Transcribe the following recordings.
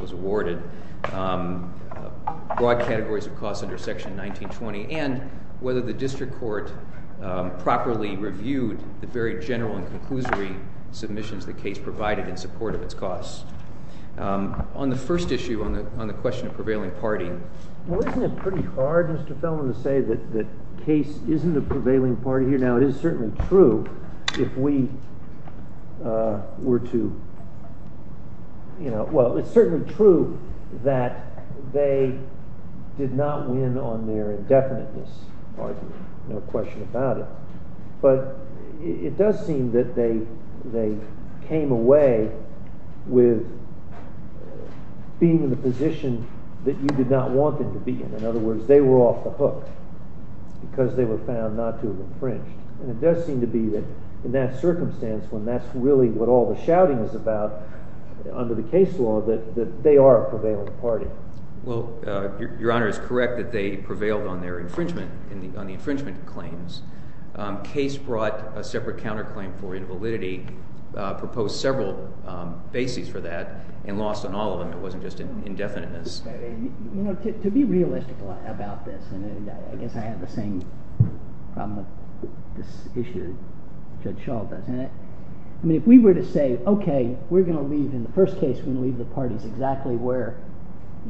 was awarded, broad categories of costs under Section 19-20, and whether the district court properly reviewed the very general and conclusory submissions the case provided in support of its costs. On the first issue, on the question of prevailing party, well, isn't it pretty hard, Mr. Feldman, to say that the case isn't a prevailing party here? Now, it is certainly true that they did not win on their indefiniteness argument. No question about it. But it does seem that they came away with being in the position that you did not want them to be in. In other words, they were off the hook because they were found not to have infringed. And it does seem to be that in that circumstance, when that's really what all the shouting is about under the case law, that they are a prevailing party. Well, Your Honor is correct that they prevailed on their infringement, on the infringement claims. Case brought a separate counterclaim for invalidity, proposed several bases for that, and lost on all of them. It wasn't just indefiniteness. To be realistic about this, and I guess I have the same problem with this issue that Judge Schall does, I mean, if we were to say, okay, we're going to leave, in the first case, we're going to leave the parties exactly where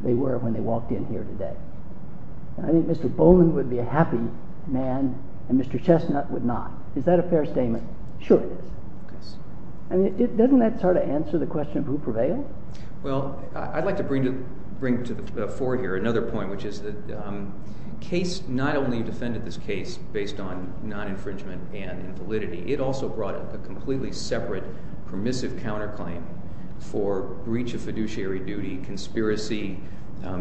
they were when they walked in here today, I think Mr. Bowman would be a happy man and Mr. Chestnut would not. Is that a fair statement? Sure it is. I mean, doesn't that sort of answer the question of who prevailed? Well, I'd like to bring to the fore here another point, which is that case not only defended this case based on non-infringement and invalidity, it also brought a completely separate permissive counterclaim for breach of fiduciary duty, conspiracy,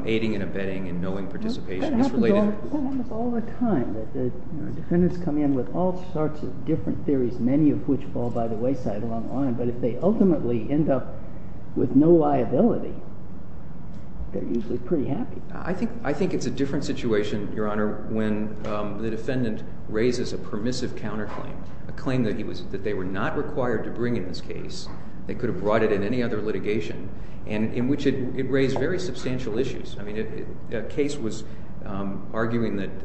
aiding and abetting, and knowing participation. That happens almost all the time. Defendants come in with all sorts of different theories, many of which fall by the wayside along the line, but if they ultimately end up with no liability, they're usually pretty happy. I think it's a different situation, Your Honor, when the defendant raises a permissive counterclaim, a claim that they were not required to bring in this case, they could have brought it in any other litigation, in which it raised very substantial issues. I mean, a case was arguing that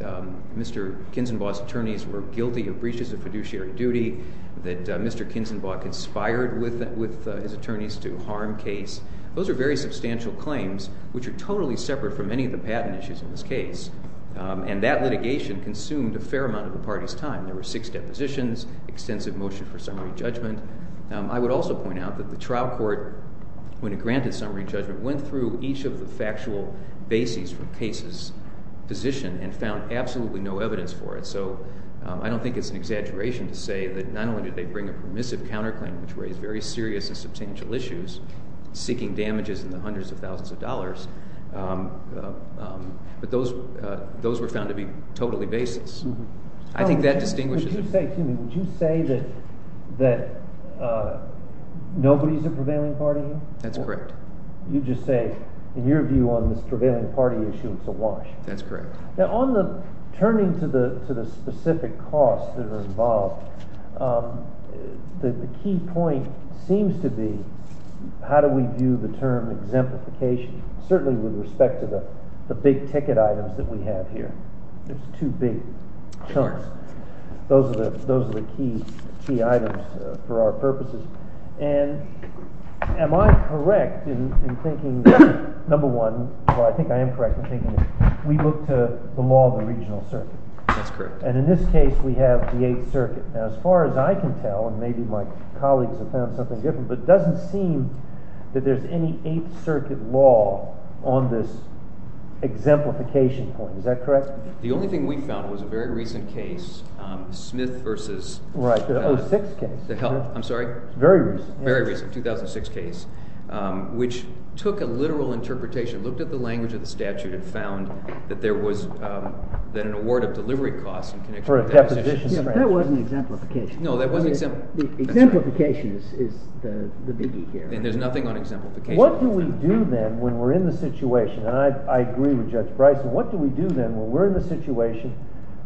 Mr. Kinzenbaugh's attorneys were guilty of breaches of fiduciary duty, that Mr. Kinzenbaugh conspired with his attorneys to harm case. Those are very substantial claims, which are totally separate from any of the patent issues in this case. And that litigation consumed a fair amount of the party's time. There were six depositions, extensive motion for summary judgment. I would also point out that the trial court, when it granted summary judgment, went through each of the factual bases for the case's position and found absolutely no evidence for it. So I don't think it's an exaggeration to say that not only did they bring a permissive counterclaim, which raised very serious and substantial issues, seeking damages in the hundreds of thousands of dollars, but those were found to be totally baseless. I think that distinguishes it. Would you say that nobody's a prevailing party? That's correct. You just say, in your view, on this prevailing party issue, it's a wash. That's correct. Now, on the turning to the specific costs that are involved, the key point seems to be, how do we view the term exemplification, certainly with respect to the big ticket items that we have here? There's two big chunks. Those are the key items for our purposes. And am I correct in thinking, number one, or I think I am correct in thinking we look to the law of the regional circuit? That's correct. And in this case, we have the Eighth Circuit. Now, as far as I can tell, and maybe my colleagues have found something different, but it doesn't seem that there's any Eighth Circuit law on this exemplification point. Is that correct? The only thing we found was a very recent case, Smith v. Right, the 06 case. I'm sorry? Very recent. Very recent, 2006 case, which took a literal interpretation, looked at the language of the statute, and found that there was an award of delivery costs in connection with that. Yeah, but that wasn't exemplification. No, that wasn't exemplification. Exemplification is the biggie here. And there's nothing on exemplification. What do we do then when we're in the situation, and I agree with Judge Bryson, what do we do then when we're in the situation,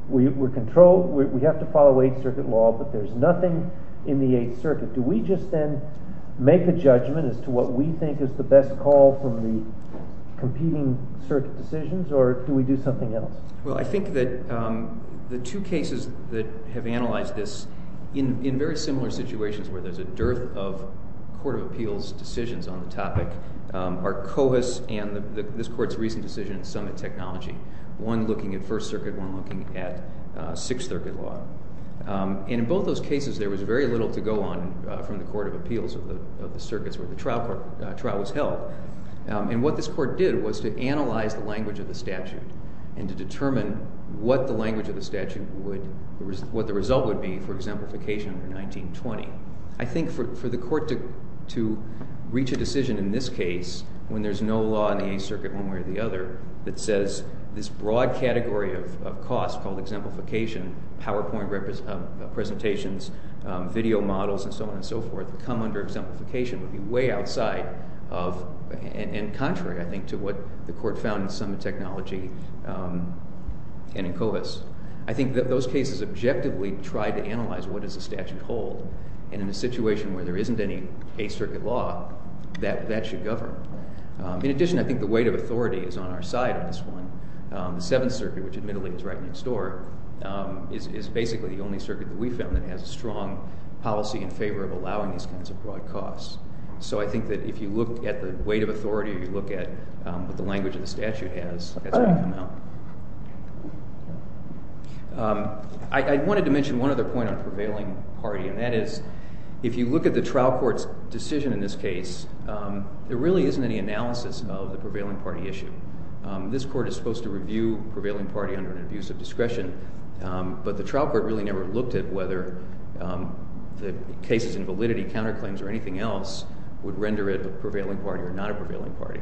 we're controlled, we have to follow Eighth Circuit law, but there's nothing in the Eighth Circuit. Do we just then make a judgment as to what we think is the best call from the competing circuit decisions, or do we do something else? Well, I think that the two cases that have analyzed this, in very similar situations where there's a dearth of court of appeals decisions on the topic, are Covis and this Court's recent decision in Summit Technology, one looking at First Circuit, one looking at Sixth Circuit law. And in both those cases, there was very little to go on from the court of appeals of the circuits where the trial was held. And what this court did was to analyze the language of the statute and to determine what the language of the statute would, what the result would be for exemplification in 1920. I think for the court to reach a decision in this case, when there's no law in the Eighth Circuit one way or the other, that says this broad category of cost called exemplification, PowerPoint presentations, video models, and so on and so forth, come under exemplification would be way outside of, and contrary, I think, to what the court found in Summit Technology and in Covis. I think that those cases objectively tried to analyze what does the statute hold. And in a situation where there isn't any Eighth Circuit law, that should govern. In addition, I think the weight of authority is on our side on this one. The Seventh Circuit, which admittedly is right next door, is basically the only circuit that we found that has a strong policy in favor of allowing these kinds of broad costs. So I think that if you look at the weight of authority, or you look at what the language of the statute has, that's where you come out. I wanted to mention one other point on prevailing party, and that is if you look at the trial court's decision in this case, there really isn't any analysis of the prevailing party issue. This court is supposed to review prevailing party under an abuse of discretion, but the trial court really never looked at whether the cases in validity, counterclaims, or anything else would render it a prevailing party or not a prevailing party.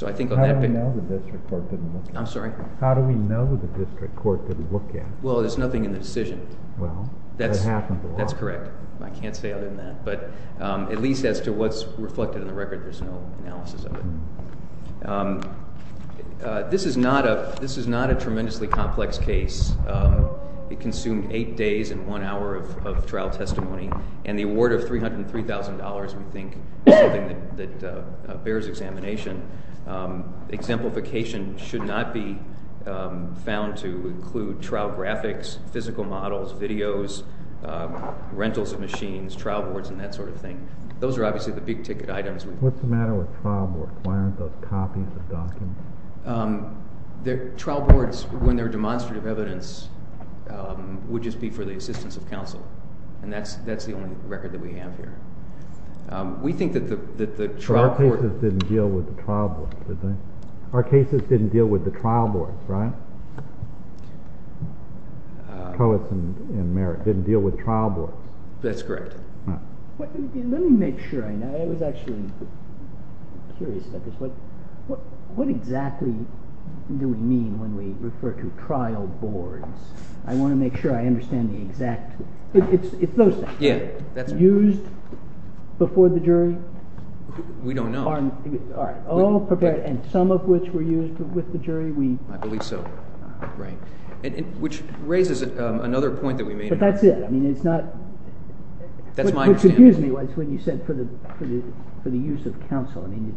How do we know the district court didn't look at it? I'm sorry? How do we know the district court didn't look at it? Well, there's nothing in the decision. Well, that happens a lot. That's correct. I can't say other than that. But at least as to what's reflected in the record, there's no analysis of it. This is not a tremendously complex case. It consumed eight days and one hour of trial testimony, and the award of $303,000, we think, is something that bears examination. Exemplification should not be found to include trial graphics, physical models, videos, rentals of machines, trial boards, and that sort of thing. Those are obviously the big-ticket items. What's the matter with trial boards? Why aren't those copies of documents? Trial boards, when they're demonstrative evidence, would just be for the assistance of counsel, and that's the only record that we have here. We think that the trial court— But our cases didn't deal with the trial boards, did they? Our cases didn't deal with the trial boards, right? Coates and Merritt didn't deal with trial boards. That's correct. Let me make sure I know. I was actually curious about this. What exactly do we mean when we refer to trial boards? I want to make sure I understand the exact— It's those things, right? Yeah, that's right. Used before the jury? All prepared, and some of which were used with the jury? I believe so. Right. Which raises another point that we made— But that's it. I mean, it's not— That's my understanding. Which, excuse me, was when you said for the use of counsel. I mean,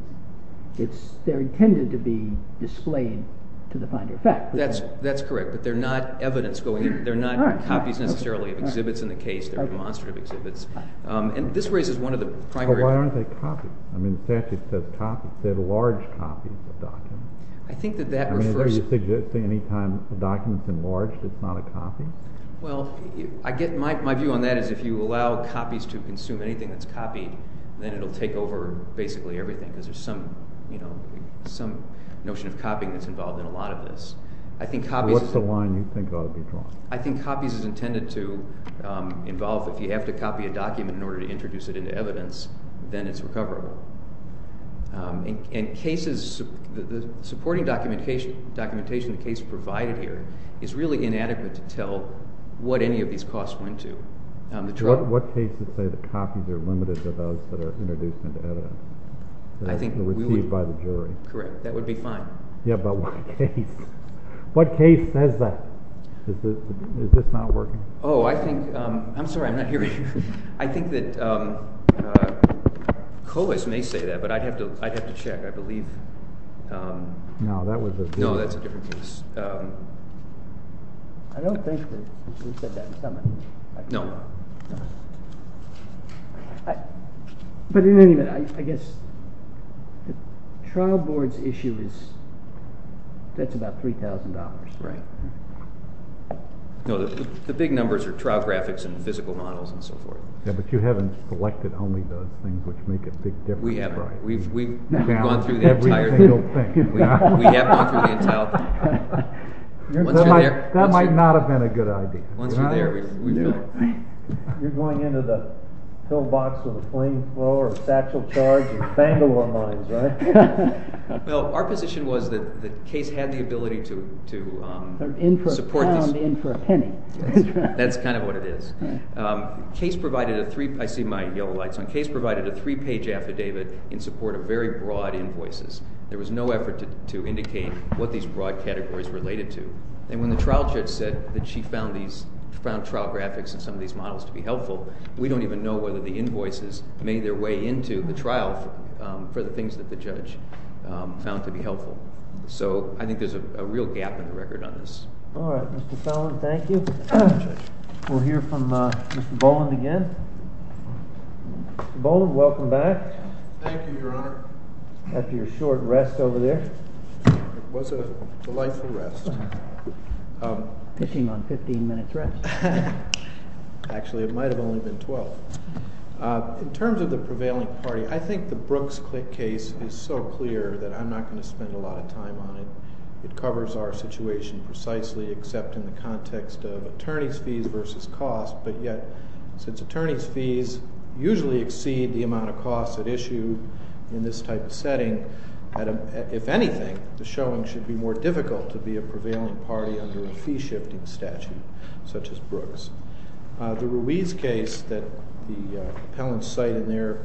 they're intended to be displayed to the finder. In fact— That's correct, but they're not evidence going in. They're not copies necessarily of exhibits in the case. They're demonstrative exhibits. And this raises one of the primary— But why aren't they copies? I mean, statute says copies. It said large copies of documents. I think that that refers— I mean, are you suggesting any time a document's enlarged, it's not a copy? Well, my view on that is if you allow copies to consume anything that's copied, then it'll take over basically everything, because there's some notion of copying that's involved in a lot of this. I think copies— What's the line you think ought to be drawn? I think copies is intended to involve, if you have to copy a document in order to introduce it into evidence, then it's recoverable. And cases—the supporting documentation in the case provided here is really inadequate to tell what any of these costs went to. What cases say that copies are limited to those that are introduced into evidence? I think we would— That are received by the jury. Correct. That would be fine. Yeah, but what case says that? Is this not working? Oh, I think—I'm sorry, I'm not hearing you. I think that Coase may say that, but I'd have to check. I believe— No, that was a different case. No, that's a different case. I don't think that he said that. No. But in any event, I guess the trial board's issue is that's about $3,000. Right. No, the big numbers are trial graphics and physical models and so forth. Yeah, but you haven't selected only those things which make a big difference. We have. We've gone through the entire thing. We have gone through the entire thing. That might not have been a good idea. Once you're there, we really— You're going into the pillbox with a flame thrower, a satchel charge, and bangle our minds, right? Well, our position was that Coase had the ability to support That's kind of what it is. I see my yellow lights on. Coase provided a three-page affidavit in support of very broad invoices. There was no effort to indicate what these broad categories related to. And when the trial judge said that she found trial graphics and some of these models to be helpful, we don't even know whether the invoices made their way into the trial for the things that the judge found to be helpful. So I think there's a real gap in the record on this. All right, Mr. Sullivan, thank you. We'll hear from Mr. Boland again. Mr. Boland, welcome back. Thank you, Your Honor. After your short rest over there. It was a delightful rest. Pitching on 15 minutes rest. Actually, it might have only been 12. In terms of the prevailing party, I think the Brooks case is so clear that I'm not going to spend a lot of time on it. It covers our situation precisely, except in the context of attorney's fees versus cost. But yet, since attorney's fees usually exceed the amount of costs at issue in this type of setting, if anything, the showing should be more difficult to be a prevailing party under a fee-shifting statute such as Brooks. The Ruiz case that the appellants cite in their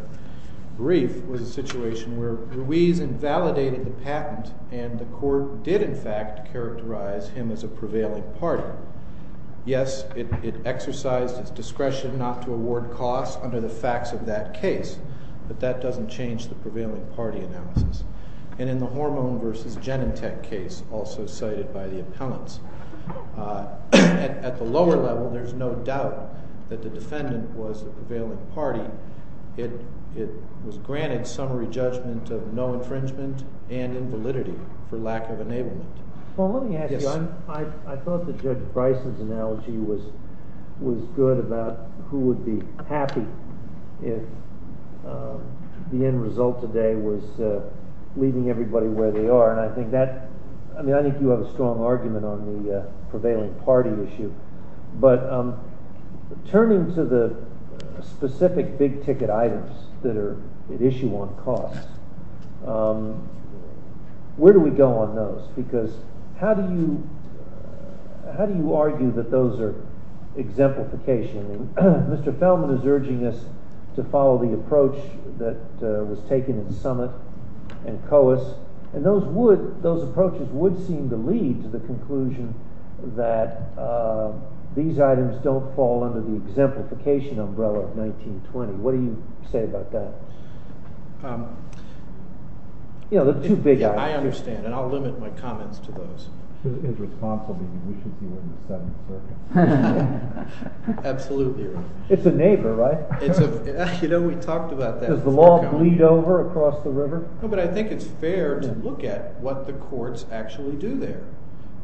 brief was a situation where Ruiz invalidated the patent and the court did, in fact, characterize him as a prevailing party. Yes, it exercised its discretion not to award costs under the facts of that case, but that doesn't change the prevailing party analysis. And in the Hormone v. Genentech case, also cited by the appellants, at the lower level, there's no doubt that the defendant was a prevailing party. It was granted summary judgment of no infringement and invalidity for lack of enablement. Well, let me ask you, I thought that Judge Bryson's analogy was good about who would be happy if the end result today was leaving everybody where they are. And I think that—I mean, I think you have a strong argument on the prevailing party issue. But turning to the specific big-ticket items that are at issue on costs, where do we go on those? Because how do you argue that those are exemplification? Mr. Feldman is urging us to follow the approach that was taken in Summitt and Coase, and those approaches would seem to lead to the conclusion that these items don't fall under the exemplification umbrella of 1920. What do you say about that? You know, they're two big items. I understand, and I'll limit my comments to those. Absolutely. It's a neighbor, right? You know, we talked about that. Does the law bleed over across the river? No, but I think it's fair to look at what the courts actually do there.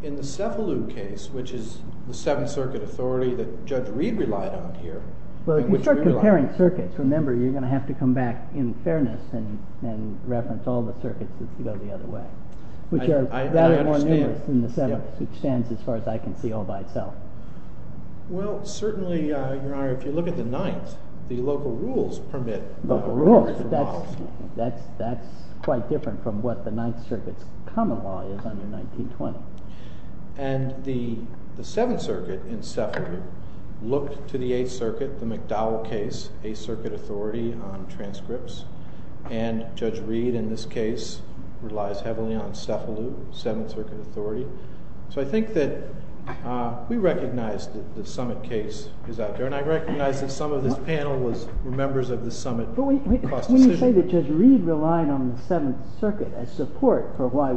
In the Cefalu case, which is the Seventh Circuit authority that Judge Reed relied on here— Well, if you start comparing circuits, remember, you're going to have to come back in fairness and reference all the circuits as to go the other way. I understand. That is more numerous than the Seventh, which stands, as far as I can see, all by itself. Well, certainly, Your Honor, if you look at the Ninth, the local rules permit— Local rules. That's quite different from what the Ninth Circuit's common law is under 1920. And the Seventh Circuit in Cefalu looked to the Eighth Circuit, the McDowell case, Eighth Circuit authority on transcripts, and Judge Reed, in this case, relies heavily on Cefalu, Seventh Circuit authority. So I think that we recognize that the Summit case is out there, and I recognize that some of this panel were members of the Summit— But when you say that Judge Reed relied on the Seventh Circuit as support for why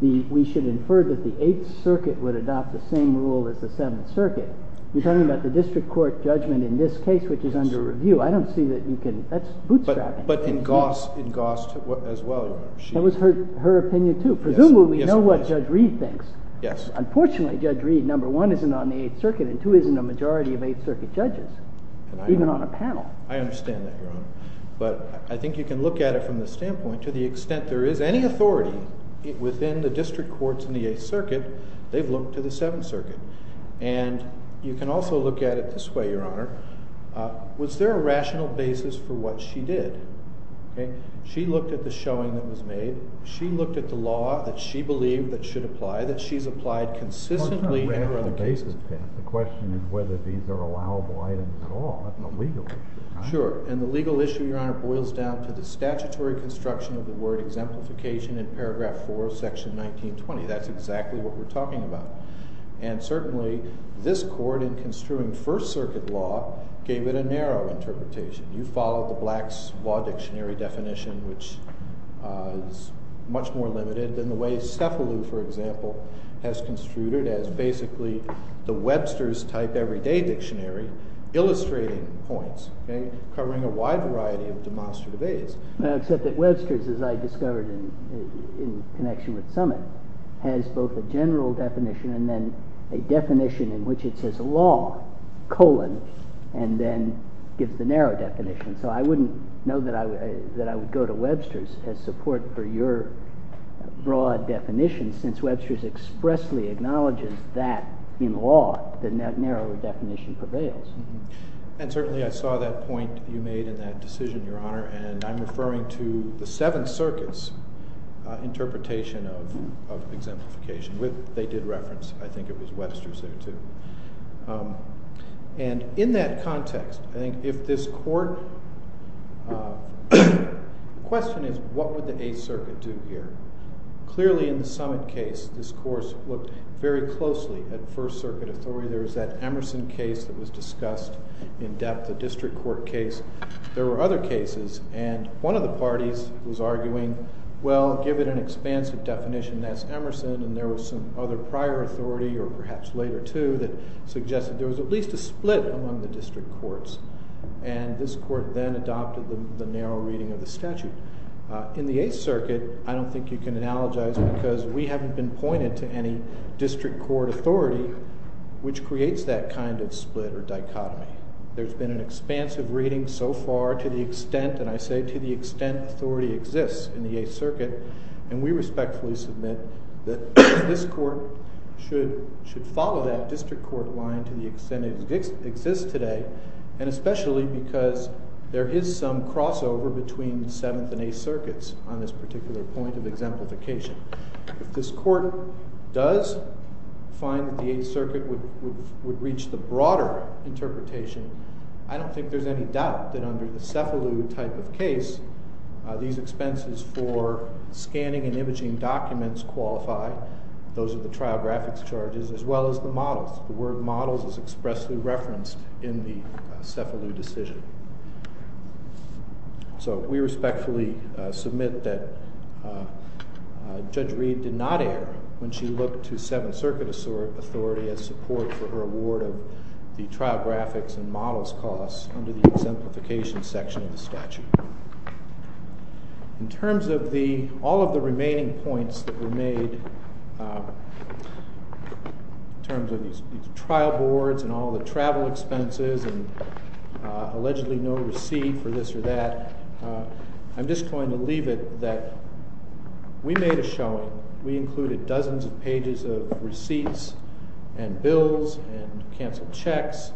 we should infer that the Eighth Circuit would adopt the same rule as the Seventh Circuit, you're talking about the district court judgment in this case, which is under review. I don't see that you can—that's bootstrapping. But in Goss, as well, Your Honor, she— That was her opinion, too. Presumably, we know what Judge Reed thinks. Yes. Unfortunately, Judge Reed, number one, isn't on the Eighth Circuit, and two, isn't a majority of Eighth Circuit judges, even on a panel. I understand that, Your Honor. But I think you can look at it from the standpoint, to the extent there is any authority within the district courts in the Eighth Circuit, they've looked to the Seventh Circuit. And you can also look at it this way, Your Honor. Was there a rational basis for what she did? She looked at the showing that was made. She looked at the law that she believed that should apply, that she's applied consistently in her other cases. Well, it's not a rational basis, Pat. The question is whether these are allowable items at all. Sure. And the legal issue, Your Honor, boils down to the statutory construction of the word exemplification in paragraph four of section 1920. That's exactly what we're talking about. And certainly, this court, in construing First Circuit law, gave it a narrow interpretation. You follow the Black's Law Dictionary definition, which is much more limited than the way Cefalu, for example, has construed it as basically the Webster's type everyday dictionary illustrating points covering a wide variety of demonstrative areas. Except that Webster's, as I discovered in connection with Summitt, has both a general definition and then a definition in which it says law, colon, and then gives the narrow definition. So I wouldn't know that I would go to Webster's as support for your broad definition since Webster's expressly acknowledges that, in law, the narrower definition prevails. And certainly, I saw that point you made in that decision, Your Honor. And I'm referring to the Seventh Circuit's interpretation of exemplification, which they did reference. I think it was Webster's there, too. And in that context, I think if this court—the question is what would the Eighth Circuit do here? Clearly, in the Summitt case, this course looked very closely at First Circuit authority. There was that Emerson case that was discussed in depth, the district court case. There were other cases. And one of the parties was arguing, well, give it an expansive definition. That's Emerson. And there was some other prior authority, or perhaps later, too, that suggested there was at least a split among the district courts. And this court then adopted the narrow reading of the statute. In the Eighth Circuit, I don't think you can analogize because we haven't been pointed to any district court authority which creates that kind of split or dichotomy. There's been an expansive reading so far to the extent—and I say to the extent authority exists in the Eighth Circuit. And we respectfully submit that this court should follow that district court line to on this particular point of exemplification. If this court does find that the Eighth Circuit would reach the broader interpretation, I don't think there's any doubt that under the Cefalu type of case, these expenses for scanning and imaging documents qualify. Those are the trial graphics charges as well as the models. The word models is expressly referenced in the Cefalu decision. So we respectfully submit that Judge Reed did not err when she looked to Seventh Circuit authority as support for her award of the trial graphics and models costs under the exemplification section of the statute. In terms of all of the remaining points that were made, in terms of these trial boards and all the travel expenses and allegedly no receipt for this or that, I'm just going to leave it that we made a showing. We included dozens of pages of receipts and bills and canceled checks,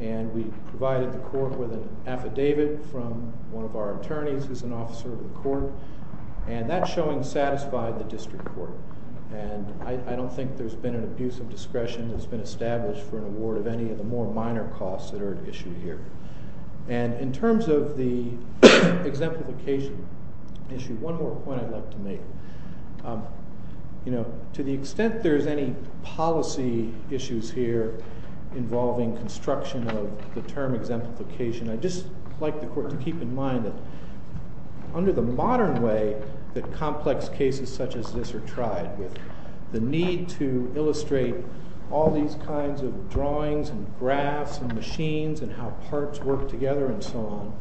and we provided the court with an affidavit from one of our attorneys who's an officer of the court. And that showing satisfied the district court. And I don't think there's been an abuse of discretion that's been established for an award of any of the more minor costs that are issued here. And in terms of the exemplification issue, one more point I'd like to make. You know, to the extent there's any policy issues here involving construction of the term exemplification, I'd just like the court to keep in mind that under the modern way that complex cases such as this are tried, with the need to illustrate all these kinds of drawings and graphs and machines and how parts work together and so on,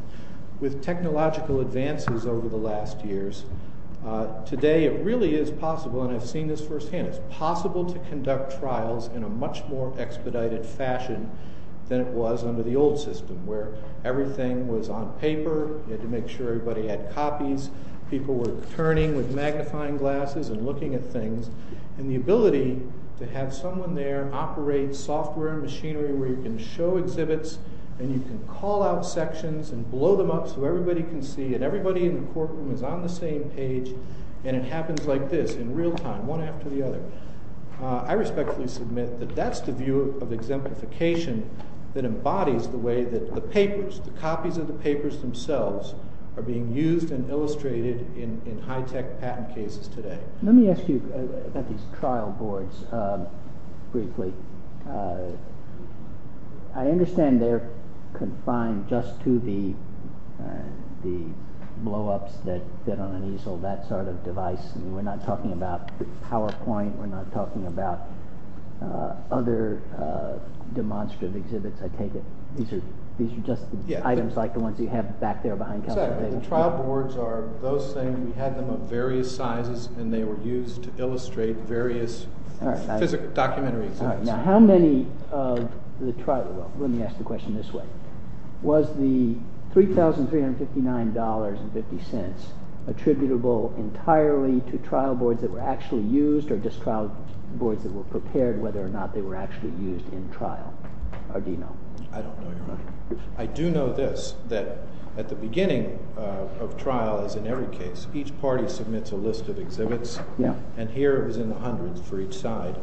with technological advances over the last years, today it really is possible, and I've seen this firsthand, it's possible to conduct trials in a much more expedited fashion than it was under the old system, where everything was on paper, you had to make sure everybody had copies, people were turning with magnifying glasses and looking at things, and the ability to have someone there operate software machinery where you can show exhibits and you can call out sections and blow them up so everybody can see and everybody in the courtroom is on the same page and it happens like this in real time, one after the other. I respectfully submit that that's the view of exemplification that embodies the way that the papers, the copies of the papers themselves are being used and illustrated in high-tech patent cases today. Let me ask you about these trial boards briefly. I understand they're confined just to the blow-ups that fit on an easel, that sort of device, and we're not talking about PowerPoint, we're not talking about other demonstrative exhibits, I take it. These are just items like the ones you have back there. The trial boards are those things, we had them of various sizes and they were used to illustrate various documentary exhibits. Now how many of the trial, let me ask the question this way, was the $3,359.50 attributable entirely to trial boards that were actually used or just trial boards that were prepared whether or not they were actually used in trial, or do you know? I don't know your question. I do know this, that at the beginning of trial, as in every case, each party submits a list of exhibits and here it was in the hundreds for each side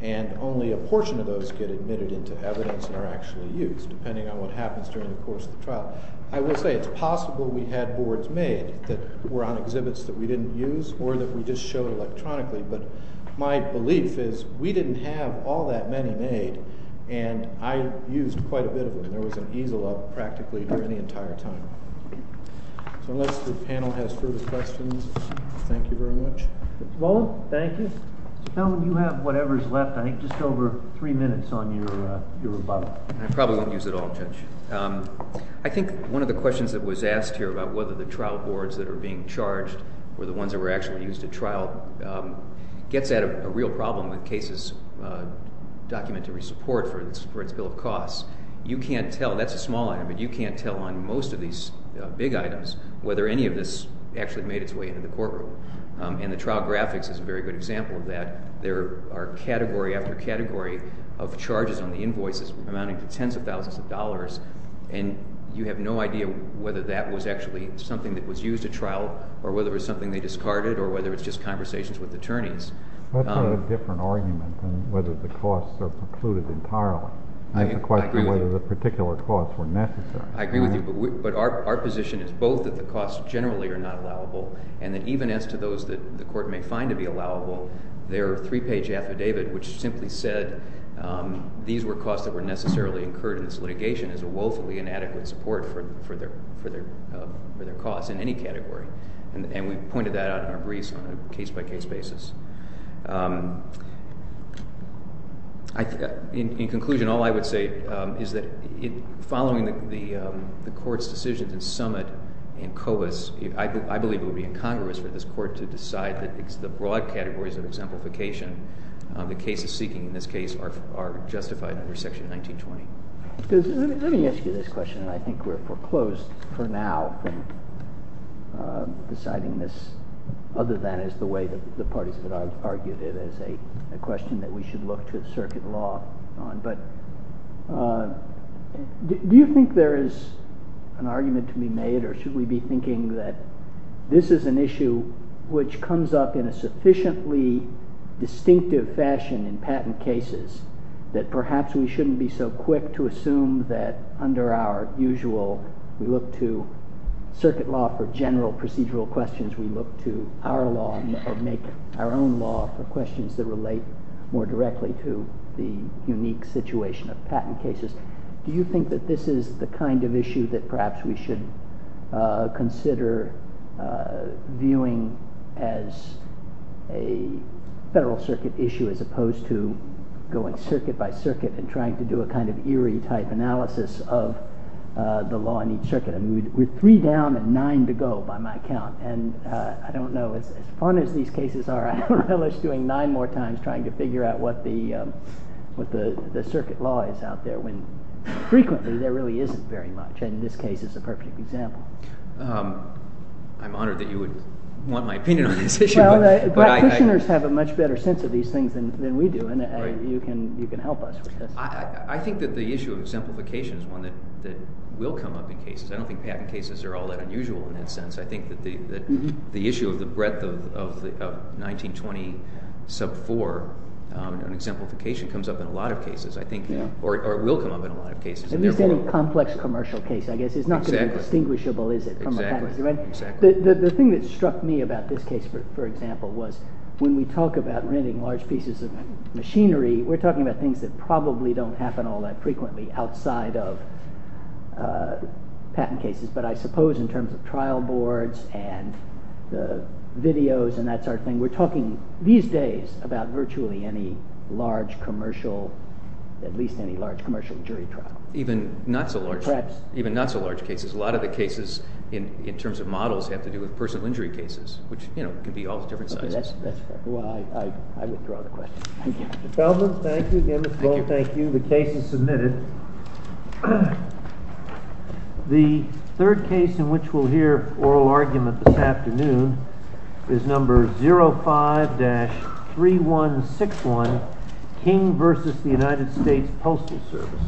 and only a portion of those get admitted into evidence and are actually used depending on what happens during the course of the trial. I will say it's possible we had boards made that were on exhibits that we didn't use or that we just showed electronically, but my belief is we didn't have all that many made and I used quite a bit of them. There was an easel up practically during the entire time. So unless the panel has further questions, thank you very much. Well, thank you. Mr. Kelman, you have whatever's left, I think just over three minutes on your rebuttal. I probably won't use it all, Judge. I think one of the questions that was asked here about whether the trial boards that are being charged were the ones that were actually used at trial gets at a real problem with cases' documentary support for its bill of costs. You can't tell, that's a small item, but you can't tell on most of these big items whether any of this actually made its way into the courtroom. And the trial graphics is a very good example of that. There are category after category of charges on the invoices amounting to tens of thousands of dollars and you have no idea whether that was actually something that was used at trial or whether it was something they discarded or whether it's just conversations with attorneys. That's a different argument than whether the costs are precluded entirely. I agree with you. It's a question of whether the particular costs were necessary. I agree with you, but our position is both that the costs generally are not allowable and that even as to those that the court may find to be allowable, their three-page affidavit, which simply said these were costs that were necessarily incurred in this litigation, is a woefully inadequate support for their costs in any category. And we've pointed that out in our briefs on a case-by-case basis. In conclusion, all I would say is that following the Court's decision to summit in Covis, I believe it will be incongruous for this Court to decide that it's the broad categories of exemplification the cases seeking in this case are justified under Section 1920. Let me ask you this question, and I think we're foreclosed for now from deciding this, other than as the way the parties have argued it as a question that we should look to the circuit law on. But do you think there is an argument to be made or should we be thinking that this is an issue which comes up in a sufficiently distinctive fashion in patent cases, that perhaps we shouldn't be so quick to assume that under our usual, we look to circuit law for general procedural questions, we look to our law or make our own law for questions that relate more directly to the unique situation of patent cases. Do you think that this is the kind of issue that perhaps we should consider viewing as a federal circuit issue as opposed to going circuit by circuit and trying to do a kind of eerie type analysis of the law in each circuit? We're three down and nine to go by my count, and I don't know, as fun as these cases are, I don't relish doing nine more times trying to figure out what the circuit law is out there when frequently there really isn't very much, and this case is a perfect example. I'm honored that you would want my opinion on this issue. Practitioners have a much better sense of these things than we do, and you can help us with this. I think that the issue of simplification is one that will come up in cases. I don't think patent cases are all that unusual in that sense. I think that the issue of the breadth of 1920 sub 4 and exemplification comes up in a lot of cases, I think, or will come up in a lot of cases. At least any complex commercial case, I guess, is not going to be distinguishable, is it, from a patent case. The thing that struck me about this case, for example, was when we talk about renting large pieces of machinery, we're talking about things that probably don't happen all that frequently outside of patent cases, but I suppose in terms of trial boards and the videos and that sort of thing, we're talking, these days, about virtually any large commercial, at least any large commercial jury trial. Even not so large cases. A lot of the cases, in terms of models, have to do with personal injury cases, which, you know, can be all different sizes. That's fair. Well, I withdraw the question. Thank you. Mr. Feldman, thank you. Ms. Lowell, thank you. The case is submitted. The third case in which we'll hear oral argument this afternoon is number 05-3161, King v. United States Postal Service. Thank you.